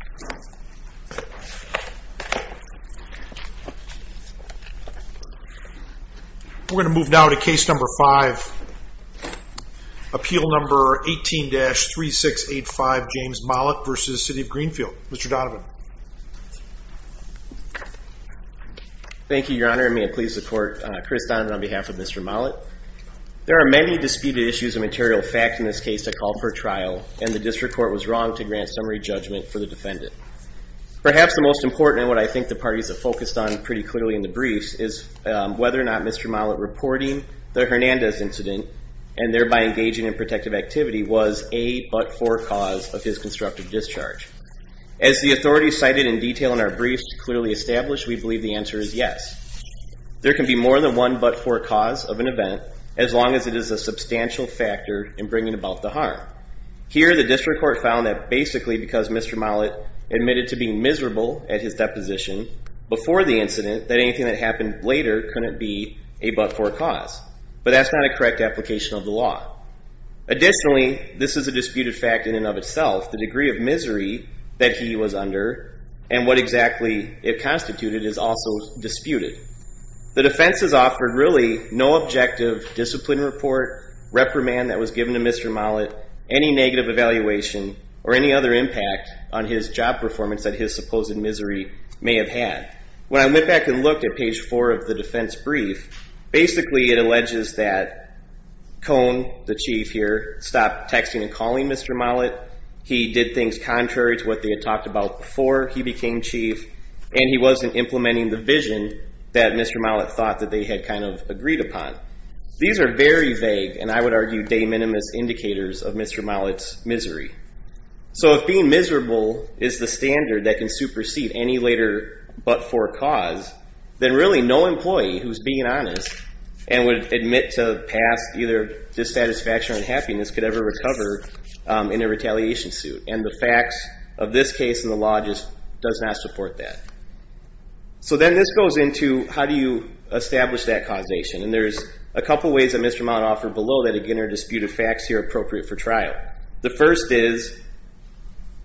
We're going to move now to case number five, appeal number 18-3685 James Mollet v. City of Greenfield. Mr. Donovan. Thank you, your honor. May it please the court, Chris Donovan on behalf of Mr. Mollet. There are many disputed issues of material fact in this case that call for trial and the district court was wrong to grant summary judgment for the defendant. Perhaps the most important and what I think the parties have focused on pretty clearly in the briefs is whether or not Mr. Mollet reporting the Hernandez incident and thereby engaging in protective activity was a but for cause of his constructive discharge. As the authorities cited in detail in our briefs clearly established, we believe the answer is yes. There can be more than one but for cause of an event as long as it is a substantial factor in bringing about the harm. Here the district court found that basically because Mr. Mollet admitted to being miserable at his deposition before the incident that anything that happened later couldn't be a but for cause. But that's not a correct application of the law. Additionally, this is a disputed fact in and of itself. The degree of misery that he was under and what exactly it constituted is also disputed. The defense has offered really no objective discipline report, reprimand that was given to Mr. Mollet, any negative evaluation or any other impact on his job performance that his supposed misery may have had. When I went back and looked at page 4 of the defense brief, basically it alleges that Cone, the chief here, stopped texting and calling Mr. Mollet. He did things contrary to what they had talked about before he became chief and he wasn't implementing the vision that Mr. Mollet thought that they had kind of agreed upon. These are very vague and I would argue de minimis indicators of Mr. Mollet's misery. So if being miserable is the standard that can supersede any later but for cause, then really no employee who's being honest and would admit to past either dissatisfaction or unhappiness could ever recover in a retaliation suit. And the facts of this case and the law just does not support that. So then this goes into how do you establish that causation and there's a couple ways that Mr. Mollet offered below that are disputed facts here appropriate for trial. The first is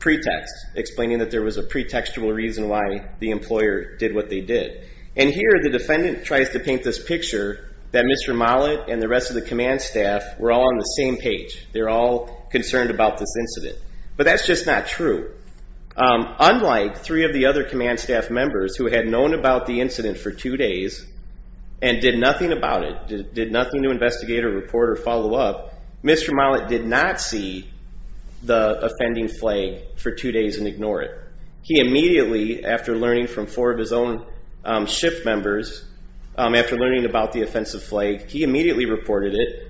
pretext, explaining that there was a pretextual reason why the employer did what they did. And here the defendant tries to paint this picture that Mr. Mollet and the rest of the command staff were all on the same page. They're all concerned about this incident. But that's just not true. Unlike three of the other command staff members who had known about the incident for two days and did nothing about it, did nothing to investigate or report or follow up, Mr. Mollet did not see the offending flag for two days and ignore it. He immediately, after learning from four of his own shift members, after learning about the offensive flag, he immediately reported it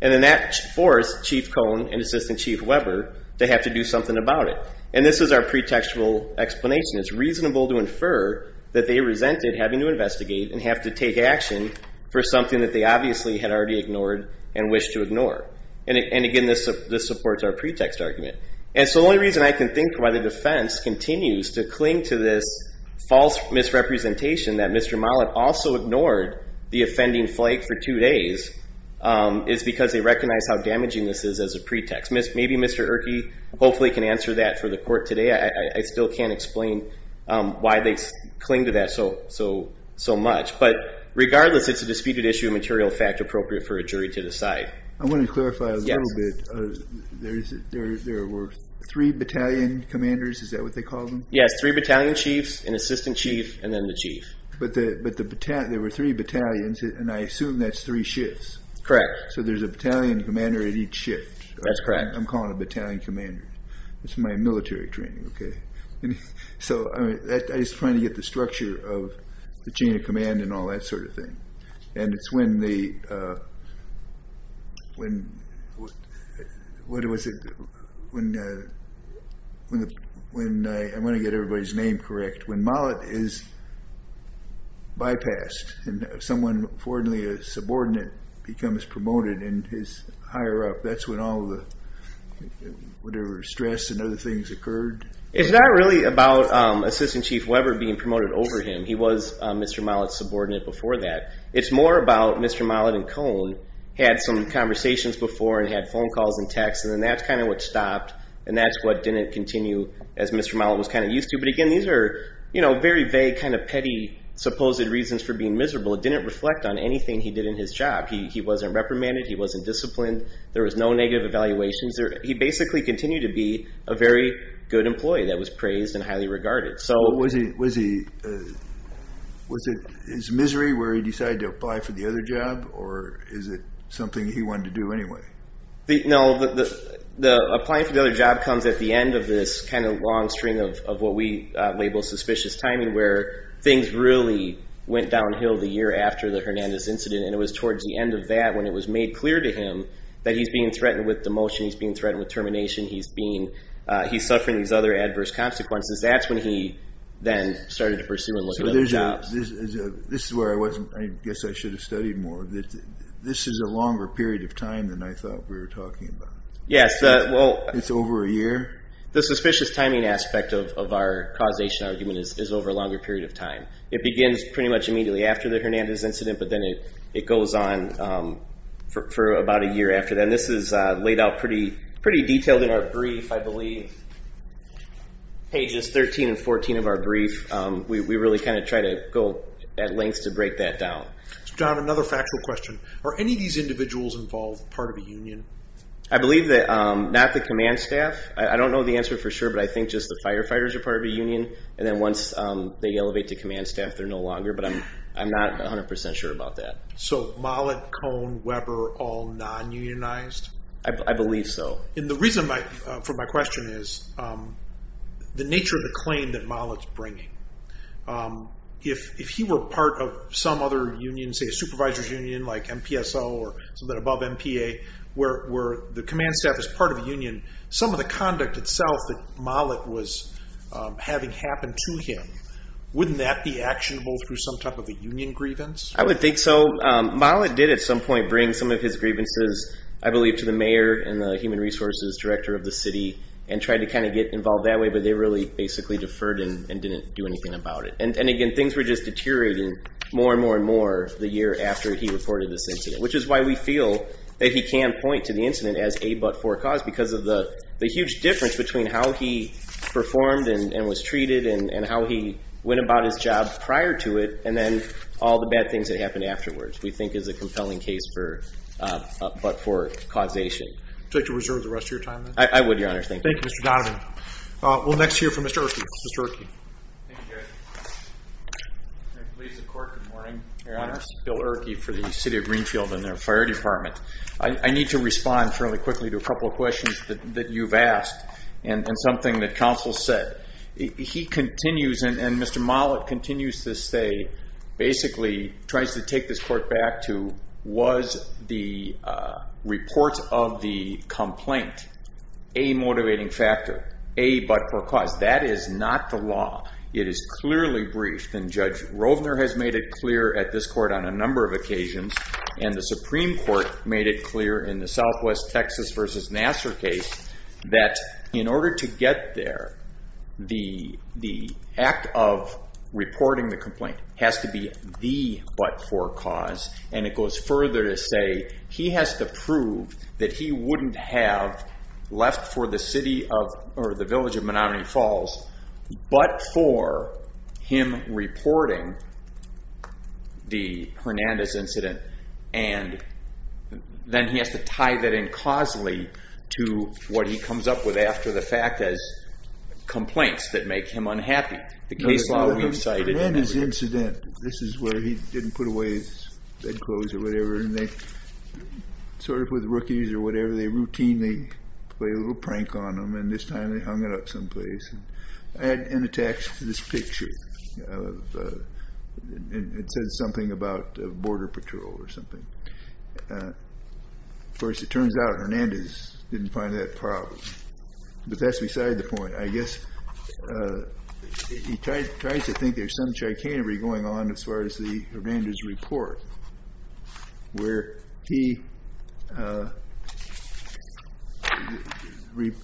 and then that forced Chief Cone and Assistant Chief Weber to have to do something about it. And this is our pretextual explanation. It's reasonable to infer that they resented having to investigate and have to take action for something that they obviously had already ignored and wished to ignore. And again this supports our pretext argument. And so the only reason I can think why the defense continues to cling to this false misrepresentation that Mr. Mollet also ignored the offending flag for two days is because they recognize how damaging this is as a pretext. Maybe Mr. Erke hopefully can answer that for the court today. I still can't explain why they cling to that so much. But regardless, it's a disputed issue, a material fact appropriate for a jury to decide. I want to clarify a little bit. There were three battalion commanders, is that what they called them? Yes, three battalion chiefs, an assistant chief, and then the chief. But there were three battalions and I assume that's three shifts. Correct. So there's a battalion commander at each shift. That's correct. I'm calling a battalion commander. It's my military training, okay. So I mean, I was trying to get the structure of the chain of command and all that sort of thing. And it's when the, when, what was it, when, when I want to get everybody's name correct, when Mollet is bypassed and someone, fortunately a subordinate, becomes promoted in his higher up, that's when all the whatever stress and other things occurred. It's not really about assistant chief Weber being promoted over him. He was Mr. Mollet's subordinate before that. It's more about Mr. Mollet and Cone had some conversations before and had phone calls and texts and then that's kind of what stopped and that's what didn't continue as Mr. Mollet was kind of used to. But again, these are, you know, very vague kind of petty supposed reasons for being miserable. It didn't reflect on anything he did in his job. He wasn't reprimanded. He wasn't disciplined. There was no negative evaluations there. He basically continued to be a very good employee that was praised and highly regarded. So was he, was it his misery where he decided to apply for the other job or is it something he wanted to do anyway? No, the applying for the other job comes at the end of this kind of long string of what we label suspicious timing where things really went downhill the year after the Hernandez incident and it was towards the end of that when it was made clear to him that he's being threatened with demotion. He's being threatened with termination. He's being, he's suffering these other adverse consequences. That's when he then started to pursue and look at other jobs. This is where I wasn't, I guess I should have studied more. This is a longer period of time than I thought we were talking about. Yes, well. It's over a year? The suspicious timing aspect of our causation argument is over a longer period of time. It begins pretty much immediately after the Hernandez incident but then it goes on for about a year after that. This is laid out pretty, pretty detailed in our brief, I believe. Pages 13 and 14 of our brief. We really kind of try to go at length to break that down. John, another factual question. Are any of these individuals involved part of a union? I believe that not the command staff. I don't know the answer for sure but I think just the firefighters are part of a union and then once they elevate to command staff they're no longer but I'm not 100% sure about that. So Mollett, Cone, Weber, all non-unionized? I believe so. And the reason for my question is the nature of the claim that Mollett's bringing. If he were part of some other union, say a supervisor's or something above MPA, where the command staff is part of a union, some of the conduct itself that Mollett was having happen to him, wouldn't that be actionable through some type of a union grievance? I would think so. Mollett did at some point bring some of his grievances, I believe, to the mayor and the human resources director of the city and tried to kind of get involved that way but they really basically deferred and didn't do anything about it. And again, things were just we feel that he can point to the incident as a but-for cause because of the huge difference between how he performed and was treated and how he went about his job prior to it and then all the bad things that happened afterwards, we think is a compelling case for a but-for causation. Would you like to reserve the rest of your time? I would, Your Honor. Thank you. Thank you, Mr. Donovan. We'll next hear from Mr. Erke. Mr. Erke. Thank you, Jerry. Good morning, Your Honor. Bill Erke for the Superior Department. I need to respond fairly quickly to a couple of questions that you've asked and something that counsel said. He continues, and Mr. Mollett continues to say, basically tries to take this court back to, was the report of the complaint a motivating factor, a but-for cause? That is not the law. It is clearly briefed and Judge Rovner has made it clear at this court on a Supreme Court, made it clear in the Southwest Texas v. Nassar case, that in order to get there, the act of reporting the complaint has to be the but-for cause. And it goes further to say he has to prove that he wouldn't have left for the city of, or the village of Menomonee Falls, but for him reporting the Then he has to tie that in causally to what he comes up with after the fact as complaints that make him unhappy. The case law we've cited. And then his incident, this is where he didn't put away his bedclothes or whatever, and they, sort of with rookies or whatever, they routinely play a little prank on him, and this time they hung it up I had in the text this picture of, it said something about border patrol or something. Of course, it turns out Hernandez didn't find that problem. But that's beside the point. I guess he tries to think there's some Hernandez report, where he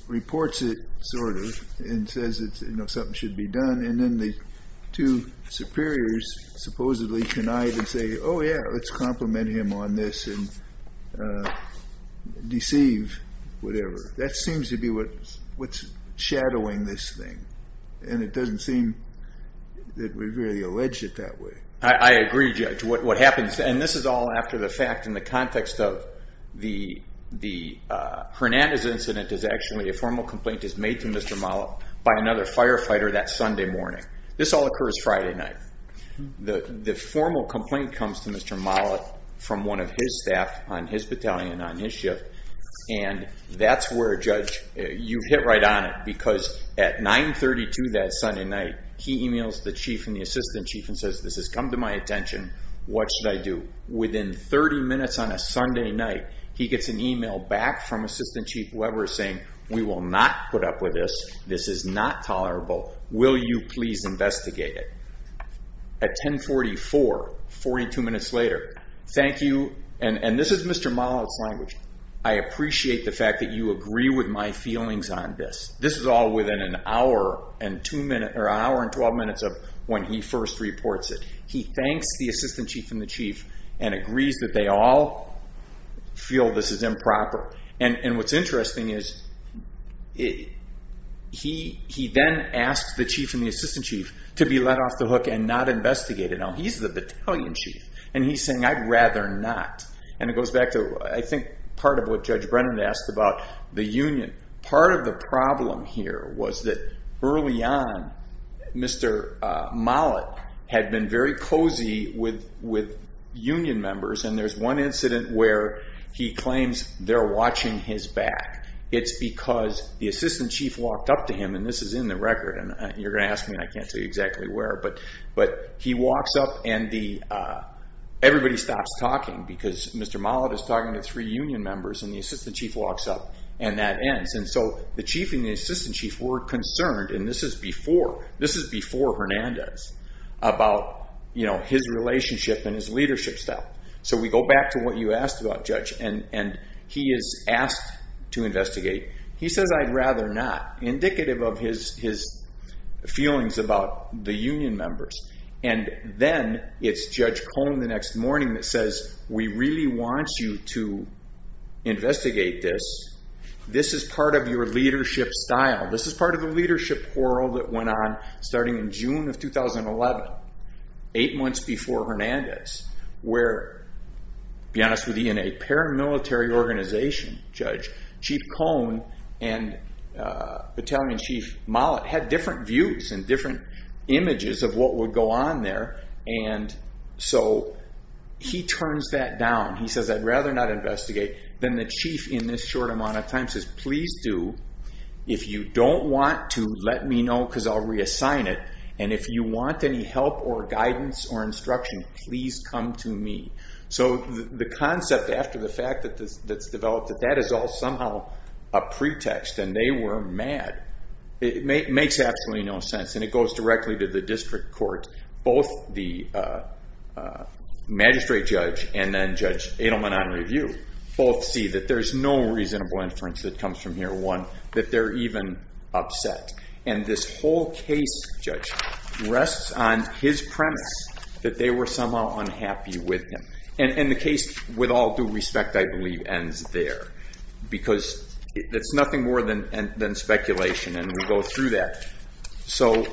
reports it, sort of, and says something should be done, and then the two superiors supposedly connive and say, oh yeah, let's compliment him on this and deceive, whatever. That seems to be what's shadowing this thing. And it doesn't seem that we've really alleged it that way. I agree, Judge. What happens, and this is all after the fact in the context of the Hernandez incident is actually a formal complaint is made to Mr. Mollet by another firefighter that Sunday morning. This all occurs Friday night. The formal complaint comes to Mr. Mollet from one of his staff on his battalion on his shift, and that's where, Judge, you hit right on it, because at 9.32 that Sunday night, he emails the chief and the assistant chief and says, this has come to my attention, what should I do? Within 30 minutes on a Sunday night, he gets an email back from assistant chief Weber saying, we will not put up with this. This is not tolerable. Will you please investigate it? At 10.44, 42 minutes later, thank you, and this is Mr. Mollet's language. I appreciate the fact that you agree with my feelings on this. This is all within an hour and 12 minutes of when he first reports it. He thanks the assistant chief and the chief and agrees that they all feel this is improper. And what's interesting is he then asks the chief and the assistant chief to be let off the hook and not investigate it. Now, he's the chief. He's not. And it goes back to, I think, part of what Judge Brennan asked about the union. Part of the problem here was that early on, Mr. Mollet had been very cozy with union members, and there's one incident where he claims they're watching his back. It's because the assistant chief walked up to him, and this is in the record, and you're going to ask me, I can't tell you exactly where, but he walks up, and everybody stops talking because Mr. Mollet is talking to three union members, and the assistant chief walks up, and that ends. And so the chief and the assistant chief were concerned, and this is before Hernandez, about his relationship and his leadership style. So we go back to what you asked about, Judge, and he is asked to investigate. He says, I'd rather not. Indicative of his feelings about the union members. And then it's Judge Cohn the next morning that says, we really want you to investigate this. This is part of your leadership style. This is part of the leadership quarrel that went on starting in June of 2011, eight months before Hernandez, where, be images of what would go on there. And so he turns that down. He says, I'd rather not investigate. Then the chief, in this short amount of time, says, please do. If you don't want to, let me know, because I'll reassign it. And if you want any help or guidance or instruction, please come to me. So the concept after the fact that's developed, that that is all somehow a pretext, and they were mad. It makes absolutely no sense. It goes directly to the district court. Both the magistrate judge and then Judge Adelman on review, both see that there's no reasonable inference that comes from here. One, that they're even upset. And this whole case, Judge, rests on his premise that they were somehow unhappy with him. And the case, with all due respect, I believe, ends there. Because it's nothing more than speculation, and we go through that. So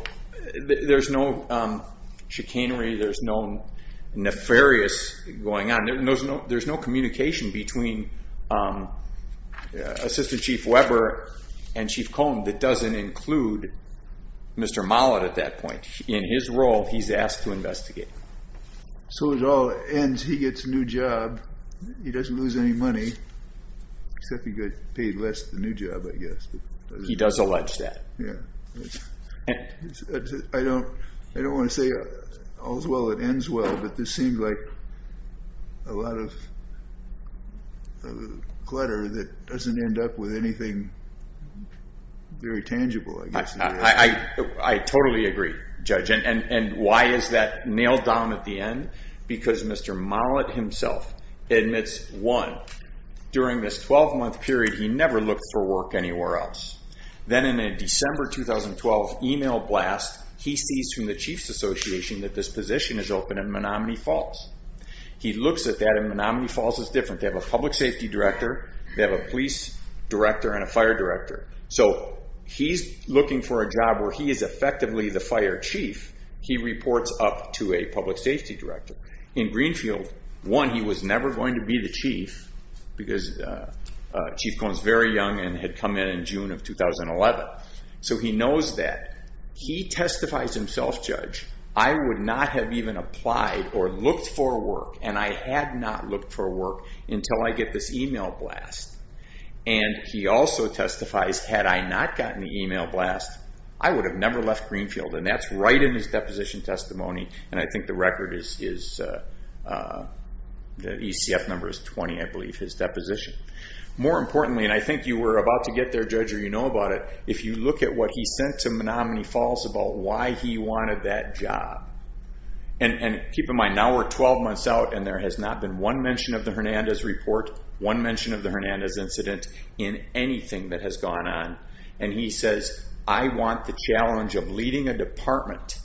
there's no chicanery. There's no nefarious going on. There's no communication between Assistant Chief Weber and Chief Cohn that doesn't include Mr. Mollet at that point. Because he gets a new job, he doesn't lose any money, except he gets paid less the new job, I guess. He does allege that. Yeah. I don't want to say all's well that ends well, but this seems like a lot of clutter that doesn't end up with anything very tangible, I guess. I totally agree, Judge. And why is that nailed down at the end? Because Mr. Mollet himself admits, one, during this 12-month period, he never looked for work anywhere else. Then in a December 2012 email blast, he sees from the Chief's Association that this position is open at Menomonee Falls. He looks at that, and Menomonee Falls is different. They have a public safety director, they have a police director, and a fire director. So he's looking for a job where he is effectively the fire chief. He reports up to a public safety director. In Greenfield, one, he was never going to be the chief because Chief Cohn is very young and had come in in June of 2011. So he knows that. He testifies himself, Judge, I would not have even applied or looked for work, and I had not looked for work, until I get this email blast. And he also testifies, had I not gotten the email blast, I would not have been the chief. I would have never left Greenfield, and that's right in his deposition testimony. And I think the record is, the ECF number is 20, I believe, his deposition. More importantly, and I think you were about to get there, Judge, or you know about it, if you look at what he sent to Menomonee Falls about why he wanted that job. And keep in mind, now we're 12 months out, and there has not been one mention of the Hernandez report, one mention of the Hernandez incident, in anything that has gone on. And he says, I want the challenge of leading a department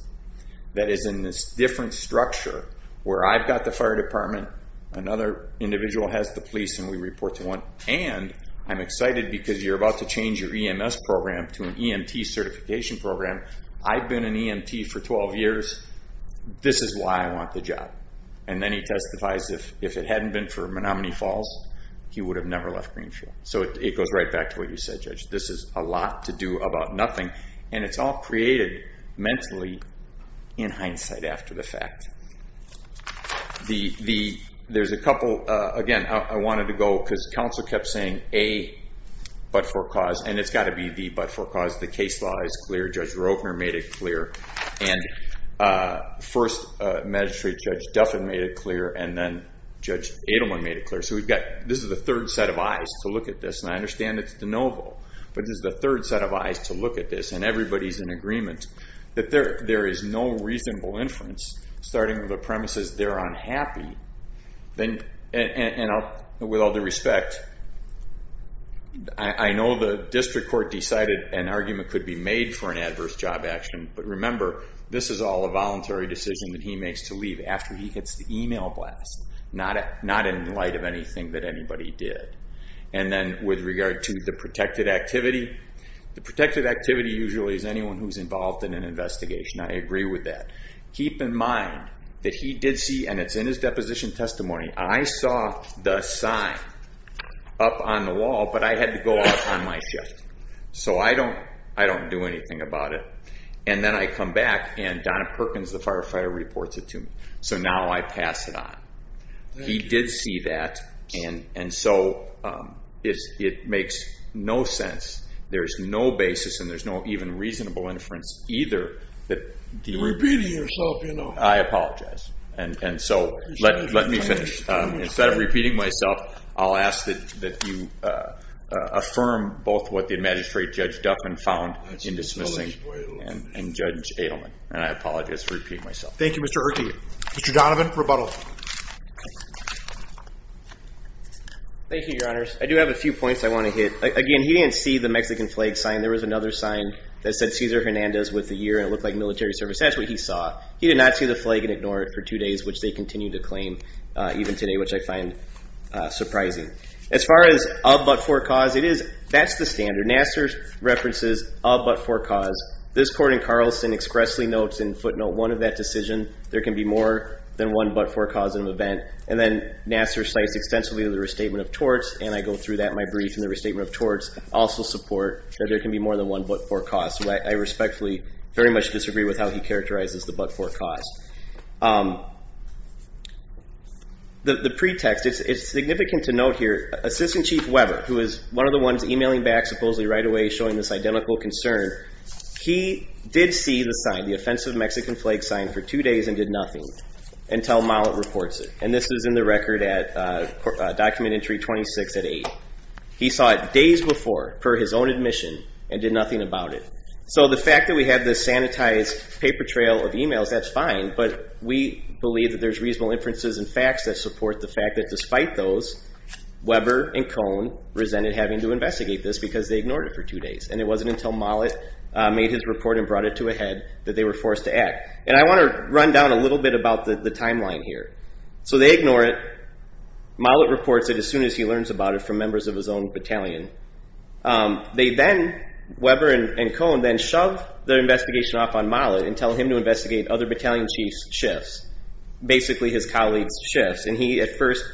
that is in this different structure, where I've got the fire department, another individual has the police, and we report to one, and I'm excited because you're about to change your EMS program to an EMT certification program. I've been an EMT for 12 years. This is why I want the job. And then he testifies, if it hadn't been for Menomonee Falls, he would have never left Greenfield. So it goes right back to what you said, Judge. This is a lot to do about nothing. And it's all created mentally, in hindsight, after the fact. There's a couple, again, I wanted to go, because counsel kept saying, A, but for cause, and it's got to be B, but for cause, the case law is clear, Judge Rogner made it clear, and First Magistrate Judge Duffin made it clear, and then Judge Adelman made it clear. So we've got, this is the third set of eyes to look at this, and I understand it's de novo, but this is the third set of eyes to look at this, and everybody is in agreement, that there is no reasonable inference, starting with the premise that they're unhappy, and with all due respect, I know the district court decided an argument could be made for an adverse job action, but remember, this is all a voluntary decision that he makes to leave after he gets the email blast, not in light of anything that anybody did. And then, with regard to the protected activity, the protected activity usually is anyone who's involved in an investigation, I agree with that. Keep in mind, that he did see, and it's in his deposition testimony, I saw the sign up on the wall, but I had to go off on my shift. So I don't do anything about it. And then I come back, and Donna Perkins, the firefighter, reports it to me. So now I pass it on. He did see that, and so it makes no sense. There's no basis, and there's no even reasonable inference either, that the... You're repeating yourself, you know. I apologize. And so, let me finish. Instead of repeating myself, I'll ask that you affirm both what the magistrate, Judge Duffin, found in dismissing, and Judge Adelman. And I apologize for repeating myself. Thank you, Mr. Urke. Mr. Donovan, rebuttal. Thank you, Your Honors. I do have a few points I want to hit. Again, he didn't see the Mexican flag sign. There was another sign that said, Cesar Hernandez, with the year, and it looked like military service. That's what he saw. He did not see the flag and ignore it for two days, which they continue to claim, even today, which I find surprising. As far as a but-for cause, it is, that's the standard. Nassar references a but-for cause. This court in Carlson expressly notes in footnote one of that decision, there can be more than one but-for cause in an event. And then Nassar cites extensively the restatement of torts, and I go through that in my brief, and the restatement of torts also support that there can be more than one but-for cause. I respectfully very much disagree with how he characterizes the but-for cause. The pretext, it's significant to note here, Assistant Chief Weber, who is one of the ones emailing back supposedly right away showing this identical concern, he did see the sign, the offensive Mexican flag sign, for two days and did nothing until Mollett reports it. And this is in the record at Document Entry 26 at 8. He saw it days before, per his own admission, and did nothing about it. So the fact that we have this sanitized paper trail of emails, that's fine, but we believe that there's reasonable inferences and facts that support the fact that despite those, Weber and Cohn resented having to investigate this because they ignored it for two days, and it wasn't until Mollett made his report and brought it to a head that they were forced to act. And I want to run down a little bit about the timeline here. So they ignore it. Mollett reports it as soon as he learns about it from members of his own battalion. They then, Weber and Cohn, then shove their investigation off on Mollett and tell him to investigate other battalion chiefs' shifts, basically his colleagues' shifts. And he at first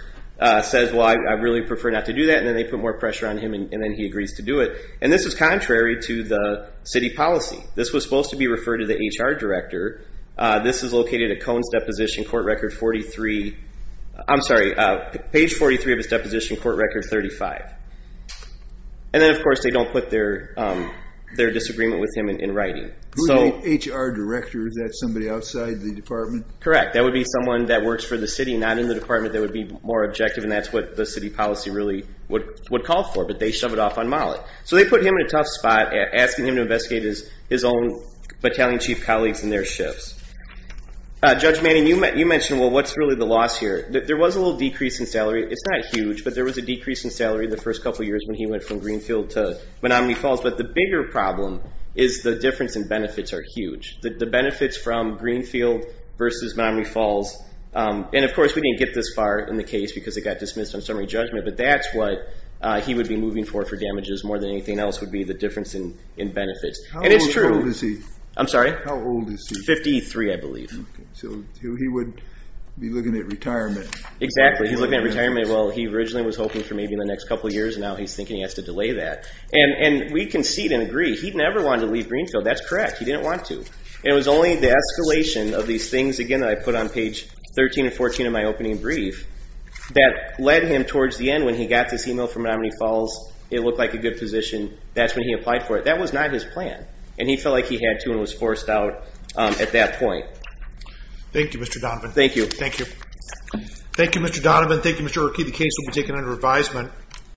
says, well, I really prefer not to do that, and then they put more pressure on him, and then he agrees to do it. And this is contrary to the city policy. This was supposed to be referred to the HR director. This is located at Cohn's deposition, court record 43, I'm sorry, page 43 of his deposition, court record 35. And then, of course, they don't put their disagreement with him in writing. Who's the HR director? Is that somebody outside the department? Correct. That would be someone that works for the city, not in the department. That would be more objective, and that's what the city policy really would call for, but they shove it off on Mollett. So they put him in a tough spot, asking him to investigate his own battalion chief colleagues and their shifts. Judge Manning, you mentioned, well, what's really the loss here? There was a little decrease in salary. It's not huge, but there was a decrease in salary the first couple years when he went from Greenfield to Menomonee Falls, but the bigger problem is the difference in benefits are huge. The benefits from Greenfield versus Menomonee Falls, and of course, we didn't get this far in the case because it got dismissed on summary judgment, but that's what he would be moving for for damages more than anything else would be the difference in benefits. And it's true. How old is he? I'm sorry? How old is he? Fifty-three, I believe. So he would be looking at retirement. Exactly. He's looking at retirement. Well, he originally was hoping for maybe in the next couple years, and now he's thinking he has to delay that. And we concede and agree, he never wanted to leave Greenfield. That's correct. He didn't want to. It was only the escalation of these things, again, that I put on page 13 and 14 of my opening brief that led him towards the end when he got this email from Menomonee Falls, it looked like a good position. That's when he applied for it. That was not his plan, and he felt like he had to and was forced out at that point. Thank you, Mr. Donovan. Thank you. Thank you. Thank you, Mr. Donovan. Thank you, Mr. O'Rourke. The case will be taken under advisement.